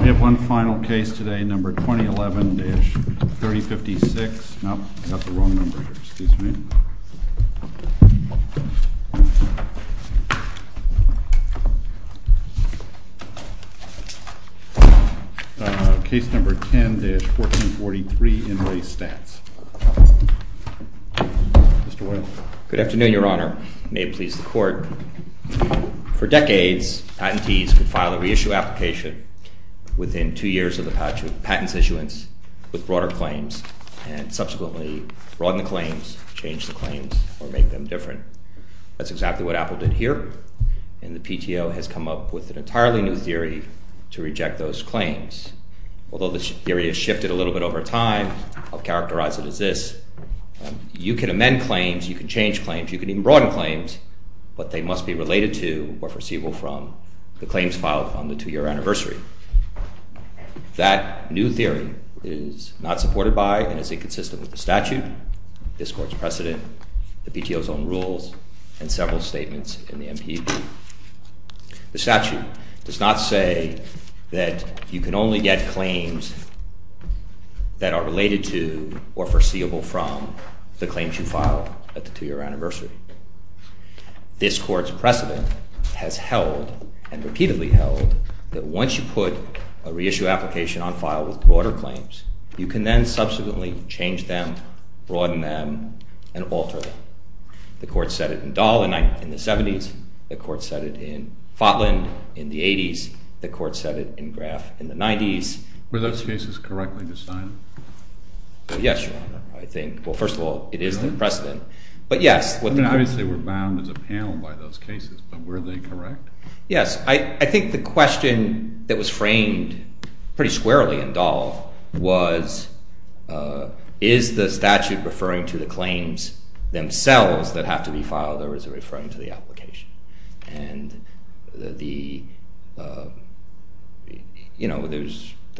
We have one final case today, number 2011-3056, no, I've got the wrong number here, excuse me. Case number 10-1443 in RE STATS. Mr. White. Good afternoon, your honor. May it please the court. For decades, patentees could file a reissue application within two years of the patent's issuance with broader claims and subsequently broaden the claims, change the claims, or make them different. That's exactly what Apple did here, and the PTO has come up with an entirely new theory to reject those claims. Although the theory has shifted a little bit over time, I'll characterize it as this. You can amend claims, you can change claims, you can even broaden claims, but they must be related to or foreseeable from the claims filed on the two-year anniversary. That new theory is not supported by and is inconsistent with the statute, this court's precedent, the PTO's own rules, and several statements in the MPD. The statute does not say that you can only get claims that are related to or foreseeable from the claims you file at the two-year anniversary. This court's precedent has held and repeatedly held that once you put a reissue application on file with broader claims, you can then subsequently change them, broaden them, and alter them. The court set it in Dahl in the 70s, the court set it in Fotland in the 80s, the court set it in Graf in the 90s. Were those cases correctly decided? Yes, Your Honor, I think. Well, first of all, it is the precedent, but yes. I mean, obviously, we're bound as a panel by those cases, but were they correct? Yes, I think the question that was framed pretty squarely in Dahl was, is the statute referring to the claims themselves that have to be filed or is it referring to the application? And, you know, there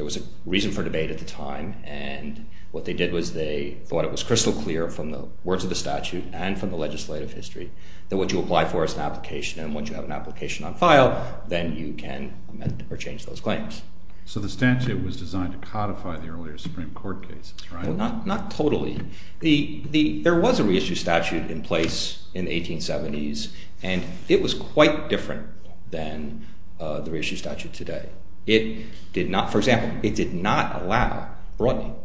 was a reason for debate at the time, and what they did was they thought it was crystal clear from the words of the statute and from the legislative history that what you apply for is an application, and once you have an application on file, then you can amend or change those claims. So the statute was designed to codify the earlier Supreme Court cases, right? Well, not totally. There was a reissue statute in place in the 1870s, and it was quite different than the reissue statute today. For example, it did not allow broadening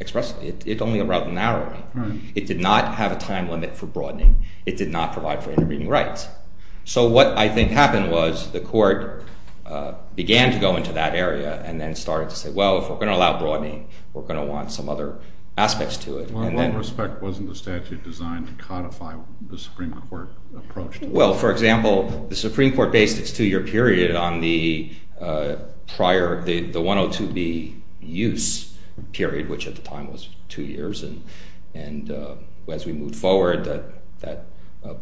expressly. It only allowed narrowing. It did not have a time limit for broadening. It did not provide for intervening rights. So what I think happened was the court began to go into that area and then started to say, well, if we're going to allow broadening, we're going to want some other aspects to it. In what respect wasn't the statute designed to codify the Supreme Court approach? Well, for example, the Supreme Court based its two-year period on the prior – the 102B use period, which at the time was two years, and as we moved forward, that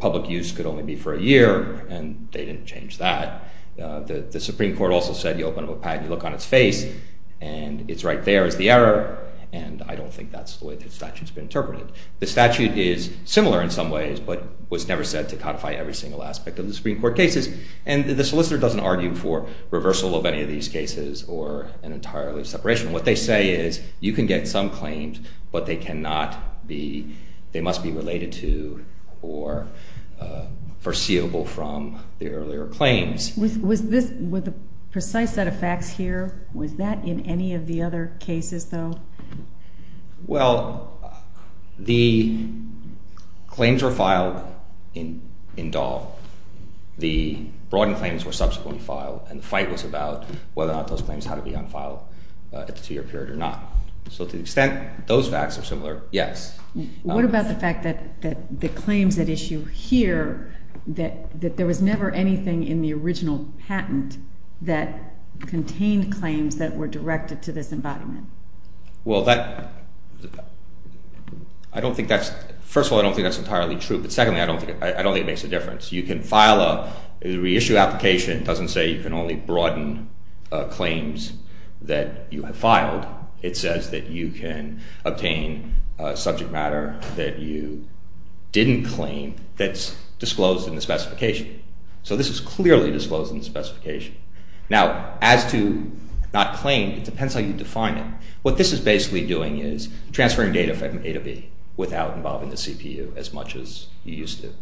public use could only be for a year, and they didn't change that. The Supreme Court also said you open up a patent, you look on its face, and it's right there is the error, and I don't think that's the way the statute's been interpreted. The statute is similar in some ways, but was never said to codify every single aspect of the Supreme Court cases, and the solicitor doesn't argue for reversal of any of these cases or an entirely separation. What they say is you can get some claims, but they cannot be – they must be related to or foreseeable from the earlier claims. Was this – with the precise set of facts here, was that in any of the other cases, though? Well, the claims were filed in Dahl. The broadened claims were subsequently filed, and the fight was about whether or not those claims had to be unfiled at the two-year period or not. So to the extent those facts are similar, yes. What about the fact that the claims at issue here, that there was never anything in the original patent that contained claims that were directed to this embodiment? Well, that – I don't think that's – first of all, I don't think that's entirely true. But secondly, I don't think it makes a difference. You can file a reissue application. It doesn't say you can only broaden claims that you have filed. It says that you can obtain subject matter that you didn't claim that's disclosed in the specification. So this is clearly disclosed in the specification. Now, as to not claim, it depends how you define it. What this is basically doing is transferring data from A to B without involving the CPU as much as you used to.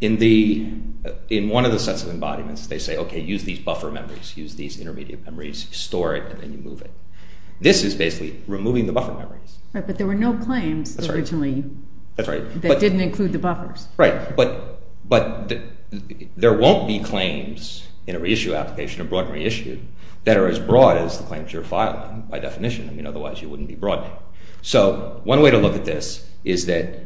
In one of the sets of embodiments, they say, okay, use these buffer memories, use these intermediate memories, store it, and then you move it. This is basically removing the buffer memories. Right, but there were no claims originally that didn't include the buffers. Right, but there won't be claims in a reissue application, a broad reissue, that are as broad as the claims you're filing by definition. I mean, otherwise you wouldn't be broadening. So one way to look at this is that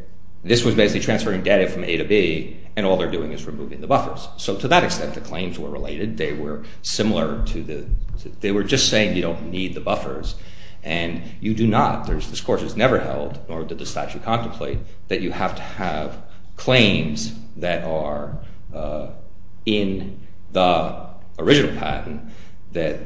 this was basically transferring data from A to B, and all they're doing is removing the buffers. So to that extent, the claims were related. They were similar to the – they were just saying you don't need the buffers, and you do not. This course is never held, nor did the statute contemplate, that you have to have claims that are in the original patent that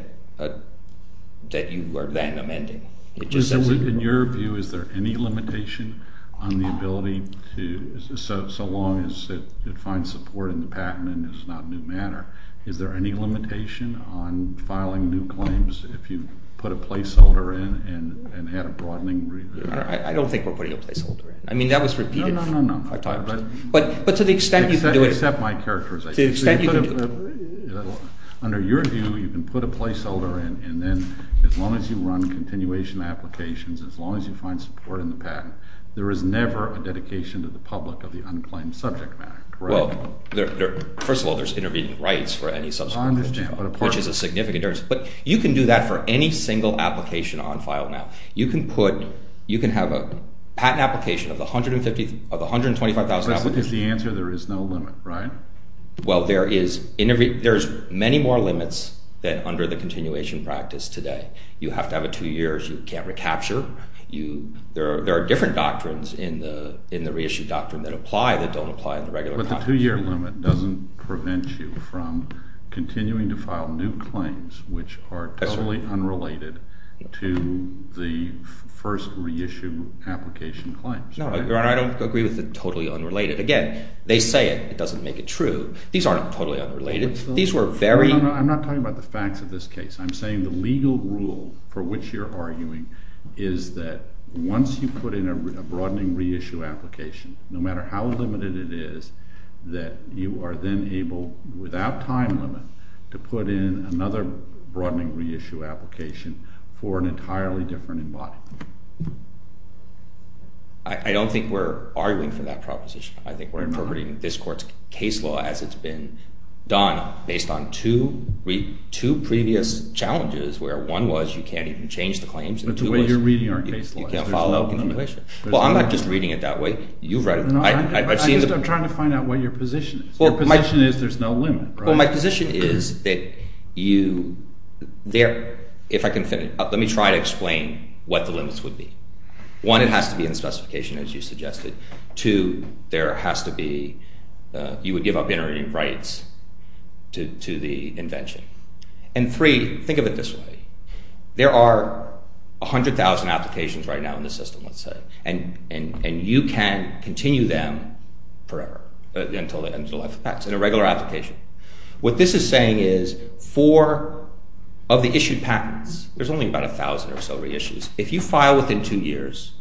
you are then amending. In your view, is there any limitation on the ability to – so long as it finds support in the patent and is not new matter, is there any limitation on filing new claims if you put a placeholder in and had a broadening reissue? I don't think we're putting a placeholder in. I mean, that was repeated five times. No, no, no, no. But to the extent you can do it – Except my characterization. To the extent you can – Under your view, you can put a placeholder in, and then as long as you run continuation applications, as long as you find support in the patent, there is never a dedication to the public of the unclaimed subject matter, correct? Well, first of all, there's intervening rights for any subject matter. I understand. Which is a significant difference. But you can do that for any single application on file now. You can put – you can have a patent application of $125,000. The question is the answer. There is no limit, right? Well, there is many more limits than under the continuation practice today. You have to have it two years. You can't recapture. There are different doctrines in the reissue doctrine that apply that don't apply in the regular context. The two-year limit doesn't prevent you from continuing to file new claims which are totally unrelated to the first reissue application claims. No, Your Honor. I don't agree with the totally unrelated. Again, they say it. It doesn't make it true. These aren't totally unrelated. These were very – No, no. I'm not talking about the facts of this case. I'm saying the legal rule for which you're arguing is that once you put in a broadening reissue application, no matter how limited it is, that you are then able, without time limit, to put in another broadening reissue application for an entirely different embodiment. I don't think we're arguing for that proposition. I think we're interpreting this court's case law as it's been done based on two previous challenges where one was you can't even change the claims and two was you can't file a continuation. But the way you're reading our case law is there's no limit. Well, I'm not just reading it that way. You've read it. I'm trying to find out what your position is. Your position is there's no limit, right? Well, my position is that you – if I can – let me try to explain what the limits would be. One, it has to be in the specification as you suggested. Two, there has to be – you would give up entering rights to the invention. And three, think of it this way. There are 100,000 applications right now in the system, let's say, and you can continue them forever until the end of the life of the patent. It's an irregular application. What this is saying is for – of the issued patents, there's only about 1,000 or so reissues. If you file within two years,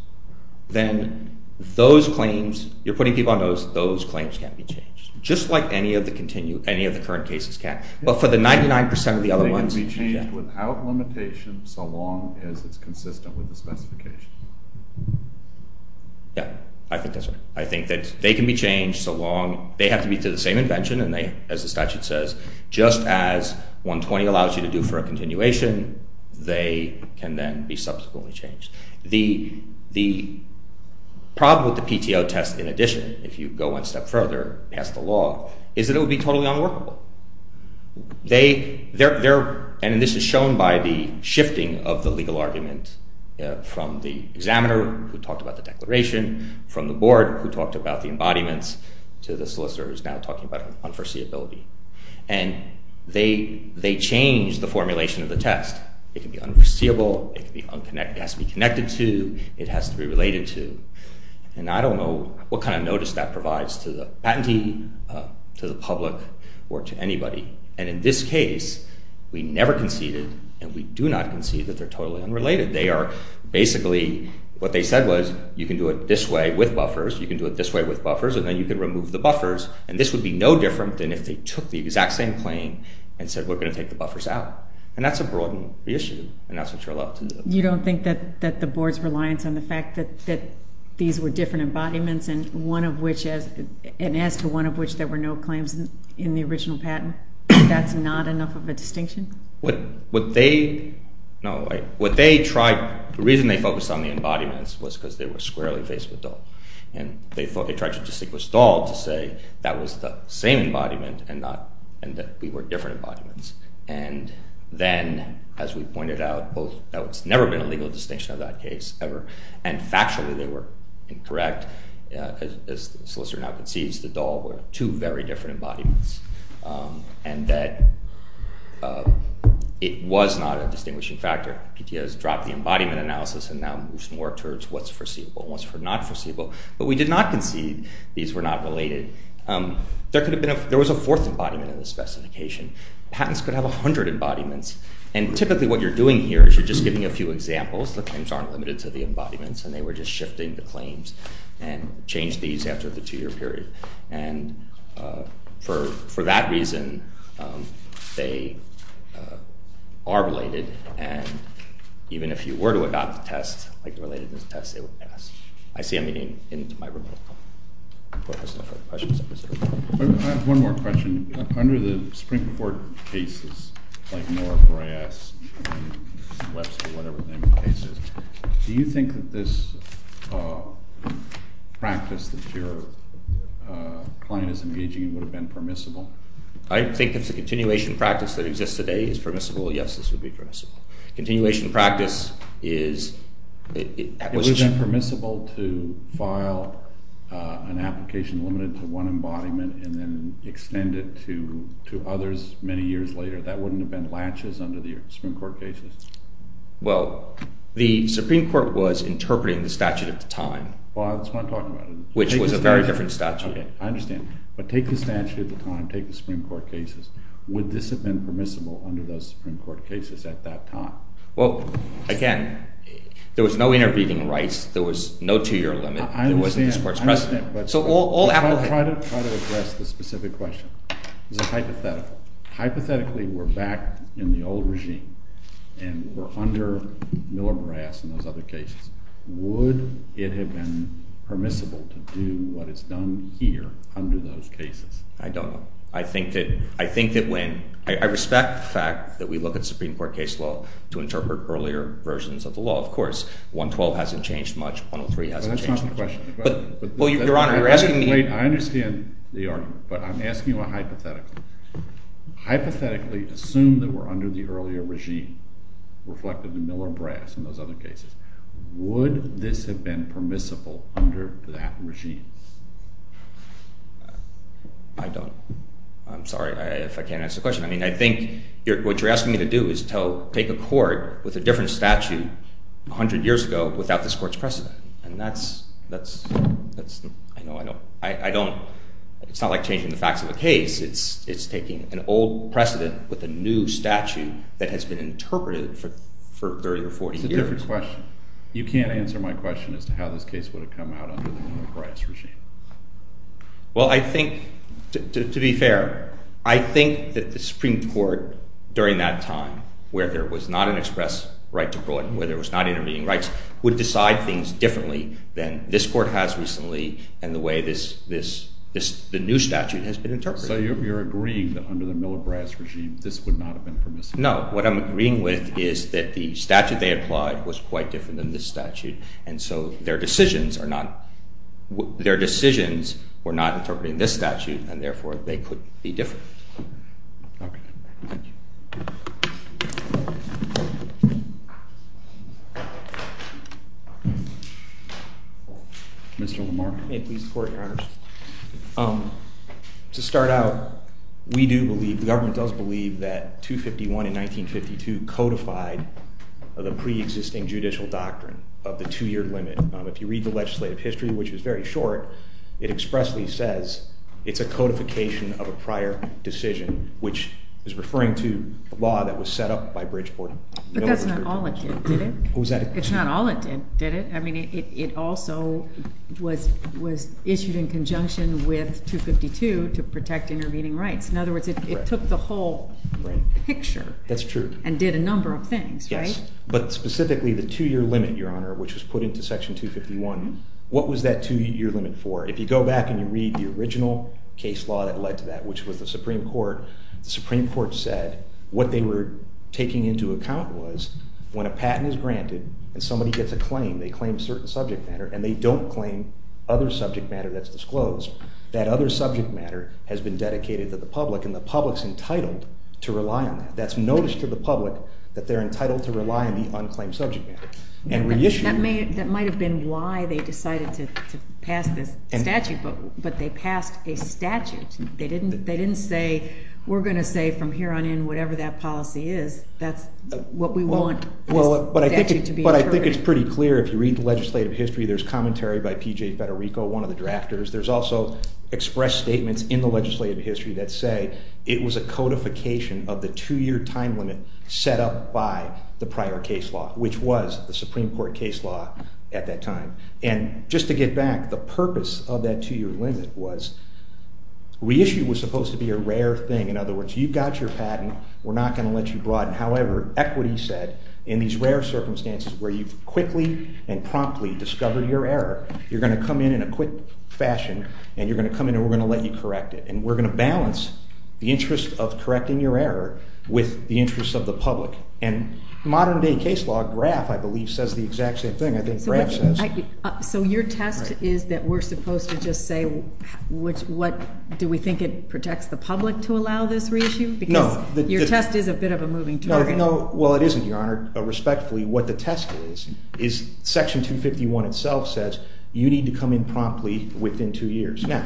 then those claims – you're putting people on those – those claims can't be changed. Just like any of the current cases can. But for the 99% of the other ones – They can be changed without limitation so long as it's consistent with the specification. Yeah, I think that's right. I think that they can be changed so long – they have to be to the same invention and they, as the statute says, just as 120 allows you to do for a continuation, they can then be subsequently changed. The problem with the PTO test in addition, if you go one step further past the law, is that it would be totally unworkable. They – and this is shown by the shifting of the legal argument from the examiner who talked about the declaration, from the board who talked about the embodiments, to the solicitor who's now talking about unforeseeability. And they change the formulation of the test. It can be unforeseeable, it has to be connected to, it has to be related to. And I don't know what kind of notice that provides to the patentee, to the public, or to anybody. And in this case, we never conceded, and we do not concede that they're totally unrelated. They are basically – what they said was, you can do it this way with buffers, you can do it this way with buffers, and then you can remove the buffers. And this would be no different than if they took the exact same claim and said, we're going to take the buffers out. And that's a broadened issue, and that's what you're allowed to do. You don't think that the board's reliance on the fact that these were different embodiments, and one of which – and as to one of which there were no claims in the original patent, that's not enough of a distinction? What they – no, what they tried – the reason they focused on the embodiments was because they were squarely faced with Dahl. And they thought – they tried to distinguish Dahl to say that was the same embodiment and not – and that we were different embodiments. And then, as we pointed out, both – there's never been a legal distinction of that case ever, and factually they were incorrect. As the solicitor now concedes, the Dahl were two very different embodiments, and that it was not a distinguishing factor. PTA has dropped the embodiment analysis and now moves more towards what's foreseeable and what's not foreseeable. But we did not concede these were not related. There could have been – there was a fourth embodiment in the specification. Patents could have 100 embodiments. And typically what you're doing here is you're just giving a few examples. The claims aren't limited to the embodiments, and they were just shifting the claims and changed these after the two-year period. And for that reason, they are related. And even if you were to adopt the test, like the relatedness test, it would pass. I see a meeting in my room. Questions? I have one more question. Under the Supreme Court cases, like Moore, Bryass, and Webster, whatever the name of the case is, do you think that this practice that your client is engaging in would have been permissible? I think that the continuation practice that exists today is permissible. Yes, this would be permissible. Continuation practice is – Would it have been permissible to file an application limited to one embodiment and then extend it to others many years later? That wouldn't have been laches under the Supreme Court cases. Well, the Supreme Court was interpreting the statute at the time. Well, that's what I'm talking about. Which was a very different statute. Okay, I understand. But take the statute at the time, take the Supreme Court cases. Would this have been permissible under those Supreme Court cases at that time? Well, again, there was no intervening rights. There was no two-year limit. There wasn't this court's precedent. I understand. But try to address the specific question because it's hypothetical. Hypothetically, we're back in the old regime and we're under Miller-Bryass and those other cases. Would it have been permissible to do what is done here under those cases? I don't know. I think that when—I respect the fact that we look at Supreme Court case law to interpret earlier versions of the law. Of course, 112 hasn't changed much. 103 hasn't changed much. That's not the question. Your Honor, you're asking me— Wait, I understand the argument, but I'm asking you a hypothetical. Hypothetically, assume that we're under the earlier regime reflected in Miller-Bryass and those other cases. Would this have been permissible under that regime? I don't—I'm sorry if I can't answer the question. I mean, I think what you're asking me to do is take a court with a different statute 100 years ago without this court's precedent. And that's—I don't—it's not like changing the facts of a case. It's taking an old precedent with a new statute that has been interpreted for 30 or 40 years. It's a different question. You can't answer my question as to how this case would have come out under the Miller-Bryass regime. Well, I think—to be fair, I think that the Supreme Court during that time where there was not an express right to broaden, where there was not intervening rights, would decide things differently than this court has recently and the way this—the new statute has been interpreted. So you're agreeing that under the Miller-Bryass regime, this would not have been permissible? No. What I'm agreeing with is that the statute they applied was quite different than this statute, and so their decisions are not—their decisions were not interpreting this statute, and therefore, they could be different. Okay. Thank you. Mr. Lamar? May it please the Court, Your Honors? To start out, we do believe—the government does believe that 251 and 1952 codified the preexisting judicial doctrine of the two-year limit. If you read the legislative history, which is very short, it expressly says it's a codification of a prior decision, which is referring to a law that was set up by Bridgeport. But that's not all it did, did it? What was that? It's not all it did, did it? I mean, it also was issued in conjunction with 252 to protect intervening rights. In other words, it took the whole picture. That's true. And did a number of things, right? Yes. But specifically, the two-year limit, Your Honor, which was put into Section 251, what was that two-year limit for? If you go back and you read the original case law that led to that, which was the Supreme Court, the Supreme Court said what they were taking into account was when a patent is granted and somebody gets a claim, they claim a certain subject matter, and they don't claim other subject matter that's disclosed, that other subject matter has been dedicated to the public, and the public's entitled to rely on that. That's notice to the public that they're entitled to rely on the unclaimed subject matter. And reissued. That might have been why they decided to pass this statute, but they passed a statute. They didn't say, we're going to say from here on in, whatever that policy is, that's what we want. But I think it's pretty clear if you read the legislative history, there's commentary by P.J. Federico, one of the drafters. There's also expressed statements in the legislative history that say it was a codification of the two-year time limit set up by the prior case law, which was the Supreme Court case law at that time. And just to get back, the purpose of that two-year limit was reissued was supposed to be a rare thing. In other words, you got your patent. We're not going to let you broaden. However, equity said, in these rare circumstances where you've quickly and promptly discovered your error, you're going to come in in a quick fashion, and you're going to come in, and we're going to let you correct it. And we're going to balance the interest of correcting your error with the interest of the public. And modern-day case law, Graff, I believe, says the exact same thing. I think Graff says— So your test is that we're supposed to just say, do we think it protects the public to allow this reissue? Because your test is a bit of a moving target. No. Well, it isn't, Your Honor. Respectfully, what the test is, is Section 251 itself says you need to come in promptly within two years. Now,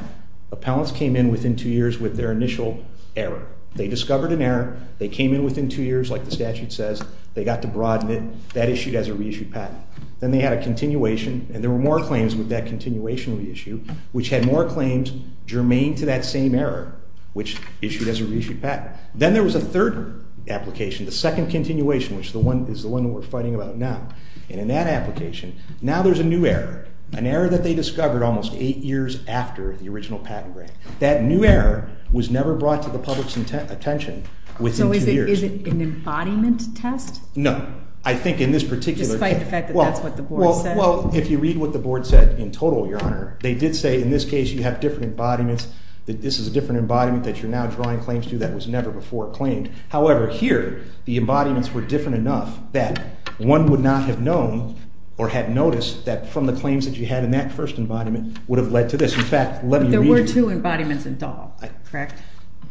appellants came in within two years with their initial error. They discovered an error. They came in within two years, like the statute says. They got to broaden it. That issued as a reissued patent. Then they had a continuation, and there were more claims with that continuation reissue, which had more claims germane to that same error, which issued as a reissued patent. Then there was a third application, the second continuation, which is the one that we're fighting about now. And in that application, now there's a new error, an error that they discovered almost eight years after the original patent grant. That new error was never brought to the public's attention within two years. So is it an embodiment test? No. I think in this particular case— Despite the fact that that's what the board said? Well, if you read what the board said in total, Your Honor, they did say in this case you have different embodiments, that this is a different embodiment that you're now drawing claims to that was never before claimed. However, here the embodiments were different enough that one would not have known or had noticed that from the claims that you had in that first embodiment would have led to this. In fact, let me read you— There were two embodiments in Dahl, correct?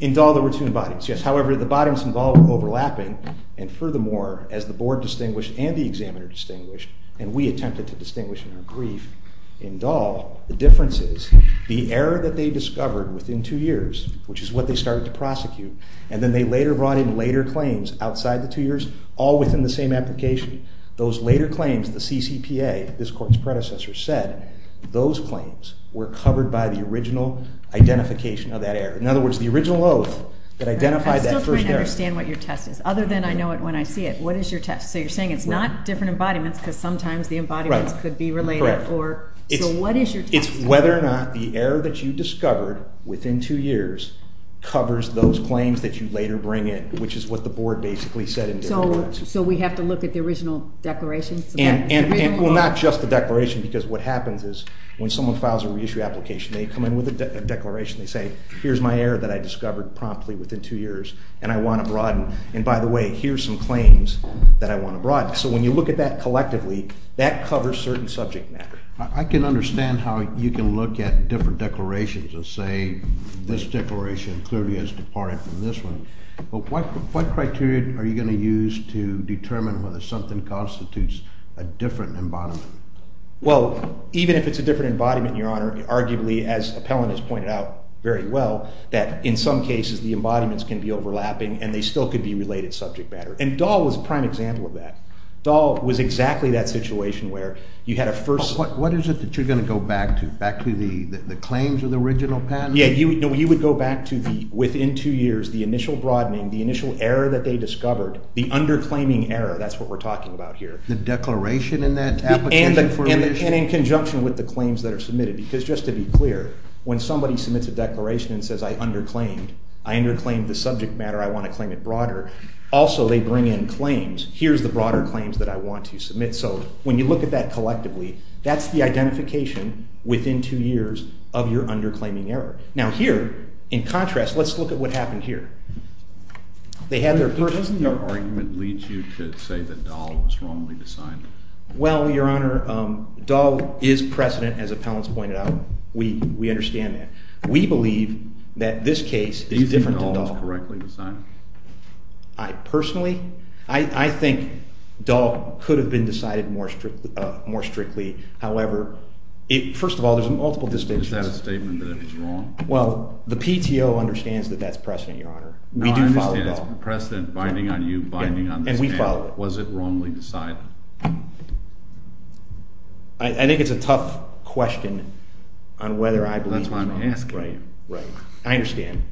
In Dahl there were two embodiments, yes. However, the embodiments in Dahl were overlapping, and furthermore, as the board distinguished and the examiner distinguished, and we attempted to distinguish in our brief in Dahl, the difference is the error that they discovered within two years, which is what they started to prosecute, and then they later brought in later claims outside the two years, all within the same application. Those later claims, the CCPA, this Court's predecessor, said those claims were covered by the original identification of that error. In other words, the original oath that identified that first error— I still can't understand what your test is, other than I know it when I see it. What is your test? So you're saying it's not different embodiments because sometimes the embodiments could be related? Correct. So what is your test? It's whether or not the error that you discovered within two years covers those claims that you later bring in, which is what the board basically said in Dahl. So we have to look at the original declaration? Well, not just the declaration, because what happens is when someone files a reissue application, they come in with a declaration. They say, here's my error that I discovered promptly within two years, and I want to broaden. And by the way, here's some claims that I want to broaden. So when you look at that collectively, that covers certain subject matter. I can understand how you can look at different declarations and say this declaration clearly is departed from this one. But what criteria are you going to use to determine whether something constitutes a different embodiment? Well, even if it's a different embodiment, Your Honor, arguably, as Appellant has pointed out very well, that in some cases the embodiments can be overlapping and they still could be related subject matter. And Dahl was a prime example of that. Dahl was exactly that situation where you had a first – What is it that you're going to go back to, back to the claims of the original patent? Yeah, you would go back to the within two years, the initial broadening, the initial error that they discovered, the underclaiming error, that's what we're talking about here. The declaration in that application for reissue? And in conjunction with the claims that are submitted. Because just to be clear, when somebody submits a declaration and says I underclaimed, I underclaimed the subject matter, I want to claim it broader, also they bring in claims. Here's the broader claims that I want to submit. So when you look at that collectively, that's the identification within two years of your underclaiming error. Now here, in contrast, let's look at what happened here. Doesn't your argument lead you to say that Dahl was wrongly decided? Well, Your Honor, Dahl is precedent, as appellants pointed out. We understand that. We believe that this case is different than Dahl. Do you think Dahl was correctly decided? Personally, I think Dahl could have been decided more strictly. However, first of all, there's multiple distinctions. Is that a statement that it was wrong? Well, the PTO understands that that's precedent, Your Honor. We do follow Dahl. I understand it's precedent, binding on you, binding on this man. And we follow it. Was it wrongly decided? I think it's a tough question on whether I believe it was wrong. That's why I'm asking. Right, right. I understand.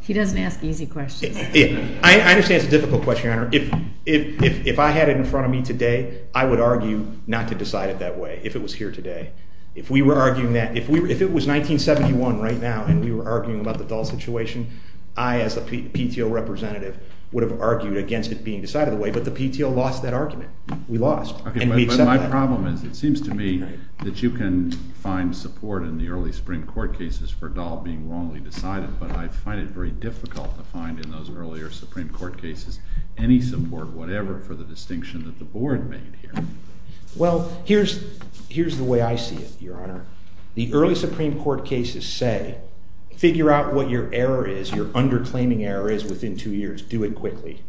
He doesn't ask easy questions. I understand it's a difficult question, Your Honor. If I had it in front of me today, I would argue not to decide it that way if it was here today. If we were arguing that, if it was 1971 right now and we were arguing about the Dahl situation, I as a PTO representative would have argued against it being decided that way. But the PTO lost that argument. We lost. But my problem is it seems to me that you can find support in the early Supreme Court cases for Dahl being wrongly decided, but I find it very difficult to find in those earlier Supreme Court cases any support, whatever, for the distinction that the board made here. Well, here's the way I see it, Your Honor. The early Supreme Court cases say figure out what your error is, your underclaiming error is within two years. Do it quickly.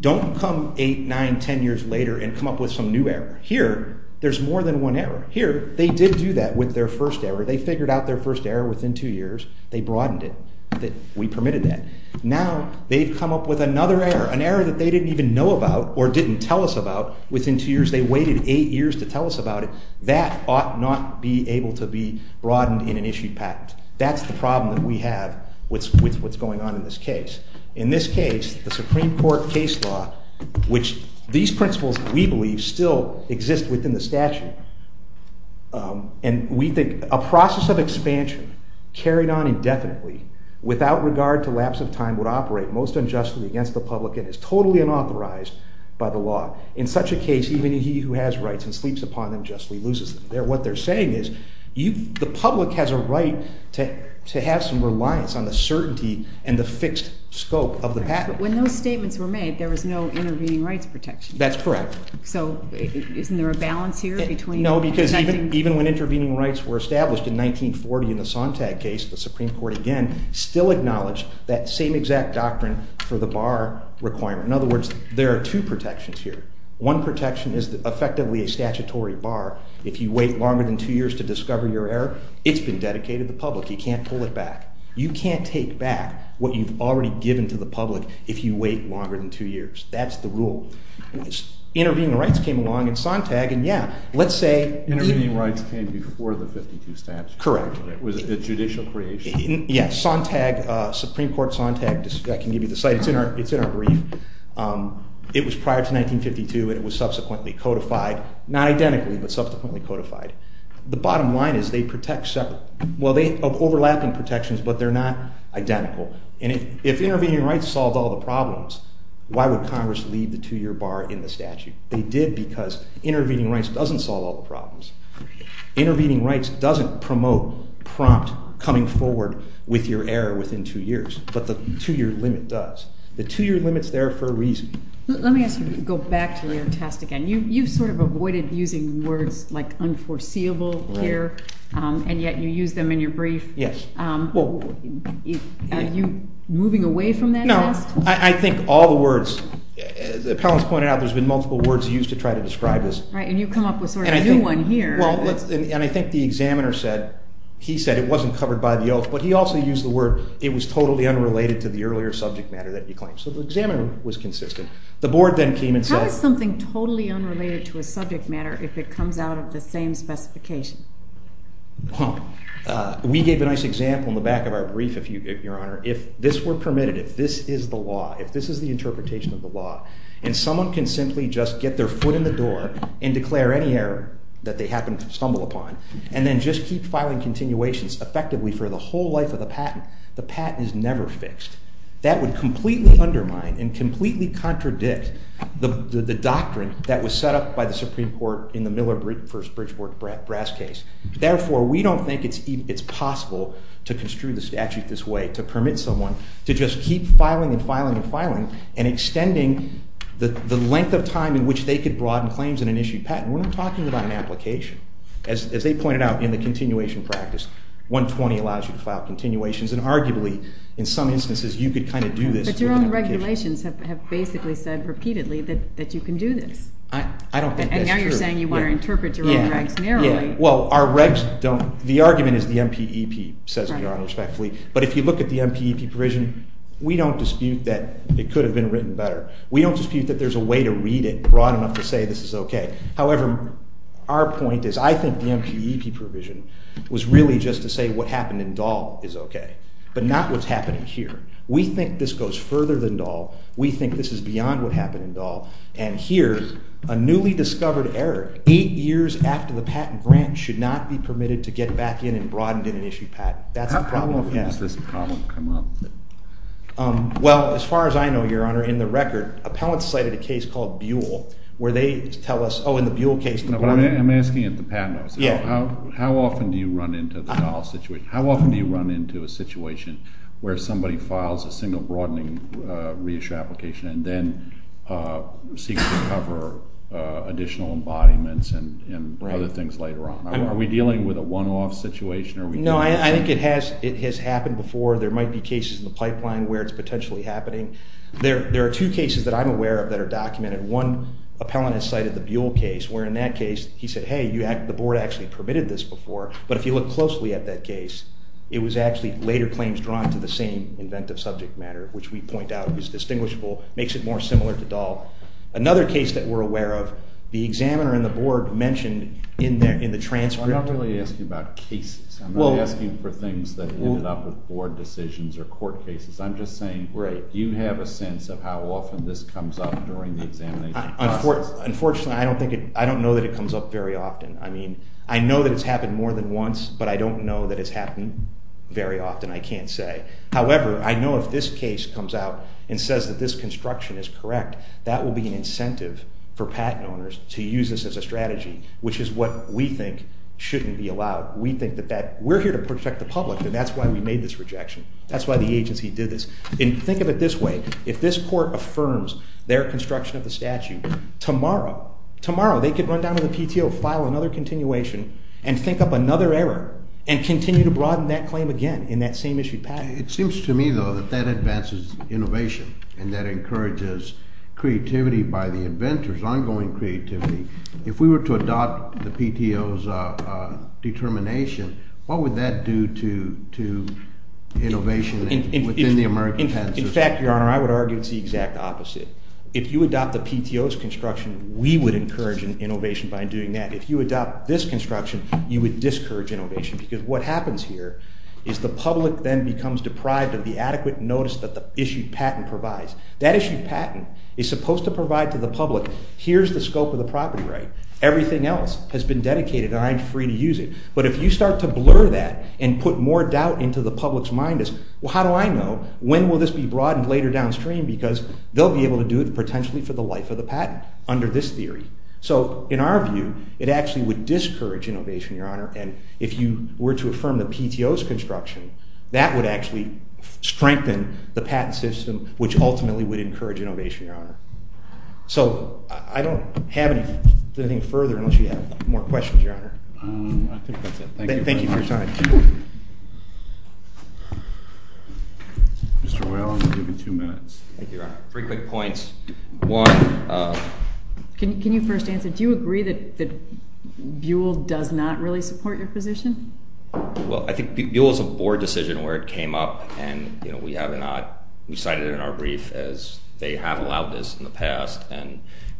Don't come eight, nine, ten years later and come up with some new error. Here there's more than one error. Here they did do that with their first error. They figured out their first error within two years. They broadened it. We permitted that. Now they've come up with another error, an error that they didn't even know about or didn't tell us about within two years. They waited eight years to tell us about it. That ought not be able to be broadened in an issued patent. That's the problem that we have with what's going on in this case. In this case, the Supreme Court case law, which these principles, we believe, still exist within the statute, and we think a process of expansion carried on indefinitely without regard to lapse of time would operate most unjustly against the public and is totally unauthorized by the law. In such a case, even he who has rights and sleeps upon them justly loses them. What they're saying is the public has a right to have some reliance on the certainty and the fixed scope of the patent. When those statements were made, there was no intervening rights protection. That's correct. So isn't there a balance here between— No, because even when intervening rights were established in 1940 in the Sontag case, the Supreme Court, again, still acknowledged that same exact doctrine for the bar requirement. In other words, there are two protections here. One protection is effectively a statutory bar. If you wait longer than two years to discover your error, it's been dedicated to the public. You can't pull it back. You can't take back what you've already given to the public if you wait longer than two years. That's the rule. Intervening rights came along in Sontag, and yeah, let's say— Intervening rights came before the 1952 statute. Correct. It was a judicial creation. Yeah, Sontag, Supreme Court Sontag. I can give you the site. It's in our brief. It was prior to 1952, and it was subsequently codified. Not identically, but subsequently codified. The bottom line is they protect separate—well, they have overlapping protections, but they're not identical. And if intervening rights solved all the problems, why would Congress leave the two-year bar in the statute? They did because intervening rights doesn't solve all the problems. Intervening rights doesn't promote prompt coming forward with your error within two years, but the two-year limit does. The two-year limit's there for a reason. Let me ask you to go back to your test again. You've sort of avoided using words like unforeseeable here, and yet you use them in your brief. Yes. Are you moving away from that test? No. I think all the words—the appellant's pointed out there's been multiple words used to try to describe this. Right, and you come up with sort of a new one here. Well, and I think the examiner said—he said it wasn't covered by the oath, but he also used the word it was totally unrelated to the earlier subject matter that he claimed. So the examiner was consistent. The board then came and said— How is something totally unrelated to a subject matter if it comes out of the same specification? Huh. We gave a nice example in the back of our brief, Your Honor. If this were permitted, if this is the law, if this is the interpretation of the law, and someone can simply just get their foot in the door and declare any error that they happen to stumble upon and then just keep filing continuations effectively for the whole life of the patent, the patent is never fixed. That would completely undermine and completely contradict the doctrine that was set up by the Supreme Court in the Miller v. Bridgeport Brass case. Therefore, we don't think it's possible to construe the statute this way, to permit someone to just keep filing and filing and filing and extending the length of time in which they could broaden claims in an issued patent. We're not talking about an application. As they pointed out in the continuation practice, 120 allows you to file continuations, and arguably in some instances you could kind of do this through an application. But your own regulations have basically said repeatedly that you can do this. I don't think that's true. And now you're saying you want to interpret your own regs narrowly. Well, our regs don't—the argument is the MPEP, says Your Honor respectfully. But if you look at the MPEP provision, we don't dispute that it could have been written better. We don't dispute that there's a way to read it broad enough to say this is okay. However, our point is I think the MPEP provision was really just to say what happened in Dahl is okay, but not what's happening here. We think this goes further than Dahl. We think this is beyond what happened in Dahl. And here, a newly discovered error, eight years after the patent grant, should not be permitted to get back in and broadened in an issued patent. That's the problem. How often does this problem come up? Well, as far as I know, Your Honor, in the record, appellants cited a case called Buell where they tell us, oh, in the Buell case— I'm asking at the patent office. How often do you run into the Dahl situation? How often do you run into a situation where somebody files a single broadening reissue application and then seeks to cover additional embodiments and other things later on? Are we dealing with a one-off situation? No, I think it has happened before. There might be cases in the pipeline where it's potentially happening. There are two cases that I'm aware of that are documented. One appellant has cited the Buell case where, in that case, he said, hey, the board actually permitted this before. But if you look closely at that case, it was actually later claims drawn to the same inventive subject matter, which we point out is distinguishable, makes it more similar to Dahl. Another case that we're aware of, the examiner and the board mentioned in the transcript— I'm not asking for things that ended up with board decisions or court cases. I'm just saying, do you have a sense of how often this comes up during the examination process? Unfortunately, I don't know that it comes up very often. I mean, I know that it's happened more than once, but I don't know that it's happened very often. I can't say. However, I know if this case comes out and says that this construction is correct, that will be an incentive for patent owners to use this as a strategy, which is what we think shouldn't be allowed. We think that that—we're here to protect the public, and that's why we made this rejection. That's why the agency did this. And think of it this way. If this court affirms their construction of the statute, tomorrow they could run down to the PTO, file another continuation, and think up another error, and continue to broaden that claim again in that same issued patent. It seems to me, though, that that advances innovation, and that encourages creativity by the inventors, ongoing creativity. If we were to adopt the PTO's determination, what would that do to innovation within the American patent system? In fact, Your Honor, I would argue it's the exact opposite. If you adopt the PTO's construction, we would encourage innovation by doing that. If you adopt this construction, you would discourage innovation, because what happens here is the public then becomes deprived of the adequate notice that the issued patent provides. That issued patent is supposed to provide to the public, here's the scope of the property right. Everything else has been dedicated, and I'm free to use it. But if you start to blur that and put more doubt into the public's mind as, well, how do I know, when will this be broadened later downstream, because they'll be able to do it potentially for the life of the patent under this theory. So in our view, it actually would discourage innovation, Your Honor, and if you were to affirm the PTO's construction, that would actually strengthen the patent system, which ultimately would encourage innovation, Your Honor. So I don't have anything further unless you have more questions, Your Honor. I think that's it. Thank you for your time. Mr. Weyl, I'm going to give you two minutes. Thank you, Your Honor. Three quick points. One, Can you first answer, do you agree that Buol does not really support your position? Well, I think Buol is a board decision where it came up, and we cited it in our brief as they have allowed this in the past,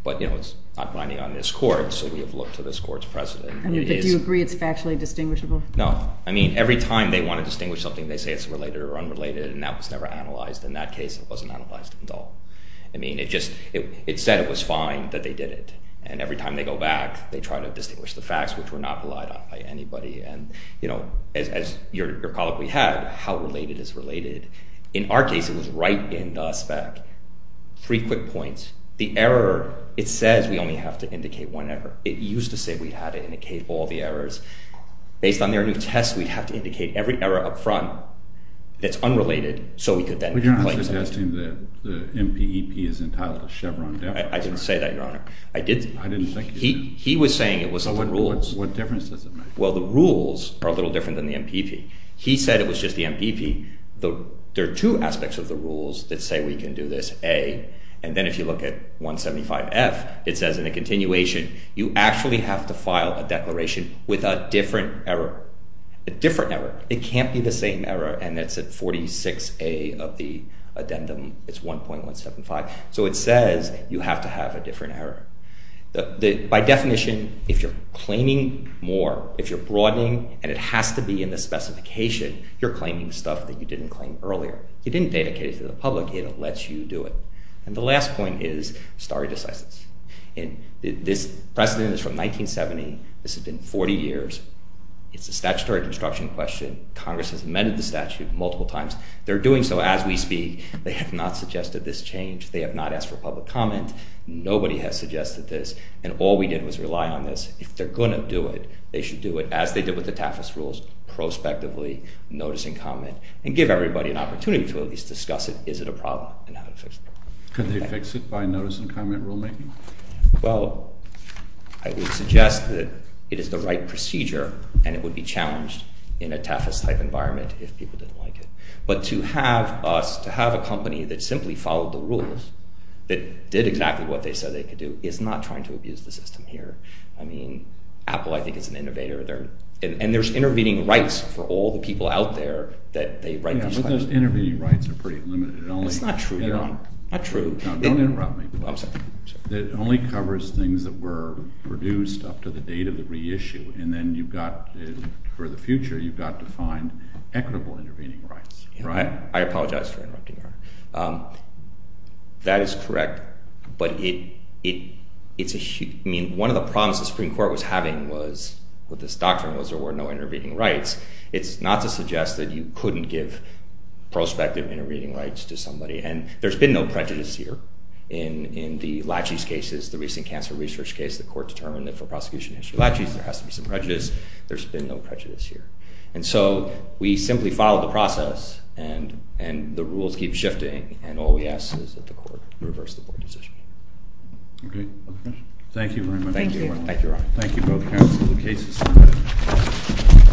but it's not binding on this court, so we have looked to this court's precedent. Do you agree it's factually distinguishable? No. I mean, every time they want to distinguish something, they say it's related or unrelated, and that was never analyzed. In that case, it wasn't analyzed at all. I mean, it said it was fine that they did it, and every time they go back, they try to distinguish the facts, which were not relied on by anybody. And, you know, as your colleague we had, how related is related? In our case, it was right in the spec. Three quick points. The error, it says we only have to indicate one error. It used to say we had to indicate all the errors. Based on their new test, we'd have to indicate every error up front that's unrelated, so we could then complain about it. But you're not suggesting that the MPEP is entitled to Chevron debt? I didn't say that, Your Honor. I didn't think you did. He was saying it was the rules. So what difference does it make? Well, the rules are a little different than the MPEP. He said it was just the MPEP. There are two aspects of the rules that say we can do this. A, and then if you look at 175F, it says in a continuation, you actually have to file a declaration with a different error. A different error. It can't be the same error, and that's at 46A of the addendum. It's 1.175. So it says you have to have a different error. By definition, if you're claiming more, if you're broadening, and it has to be in the specification, you're claiming stuff that you didn't claim earlier. You didn't dedicate it to the public. It lets you do it. And the last point is stare decisis. This precedent is from 1970. This has been 40 years. It's a statutory construction question. Congress has amended the statute multiple times. They're doing so as we speak. They have not suggested this change. They have not asked for public comment. Nobody has suggested this. And all we did was rely on this. If they're going to do it, they should do it as they did with the TAFAS rules, prospectively, noticing comment, and give everybody an opportunity to at least discuss it. Is it a problem? And how to fix it. Could they fix it by notice and comment rulemaking? Well, I would suggest that it is the right procedure, and it would be challenged in a TAFAS-type environment if people didn't like it. But to have us, to have a company that simply followed the rules, that did exactly what they said they could do, is not trying to abuse the system here. I mean, Apple, I think, is an innovator. And there's intervening rights for all the people out there that write these letters. Yeah, but those intervening rights are pretty limited. It's not true. Not true. Now, don't interrupt me. I'm sorry. It only covers things that were produced up to the date of the reissue. And then you've got, for the future, you've got to find equitable intervening rights, right? I apologize for interrupting. That is correct. But it's a huge, I mean, one of the problems the Supreme Court was having was, what this doctrine was, there were no intervening rights. It's not to suggest that you couldn't give prospective intervening rights to somebody. And there's been no prejudice here. In the Lachey's cases, the recent cancer research case, the court determined that for prosecution in history of Lachey's there has to be some prejudice. There's been no prejudice here. And so we simply follow the process, and the rules keep shifting, and all we ask is that the court reverse the board decision. Okay. Thank you very much. Thank you. Thank you, Your Honor. Thank you both counsel. The case is submitted.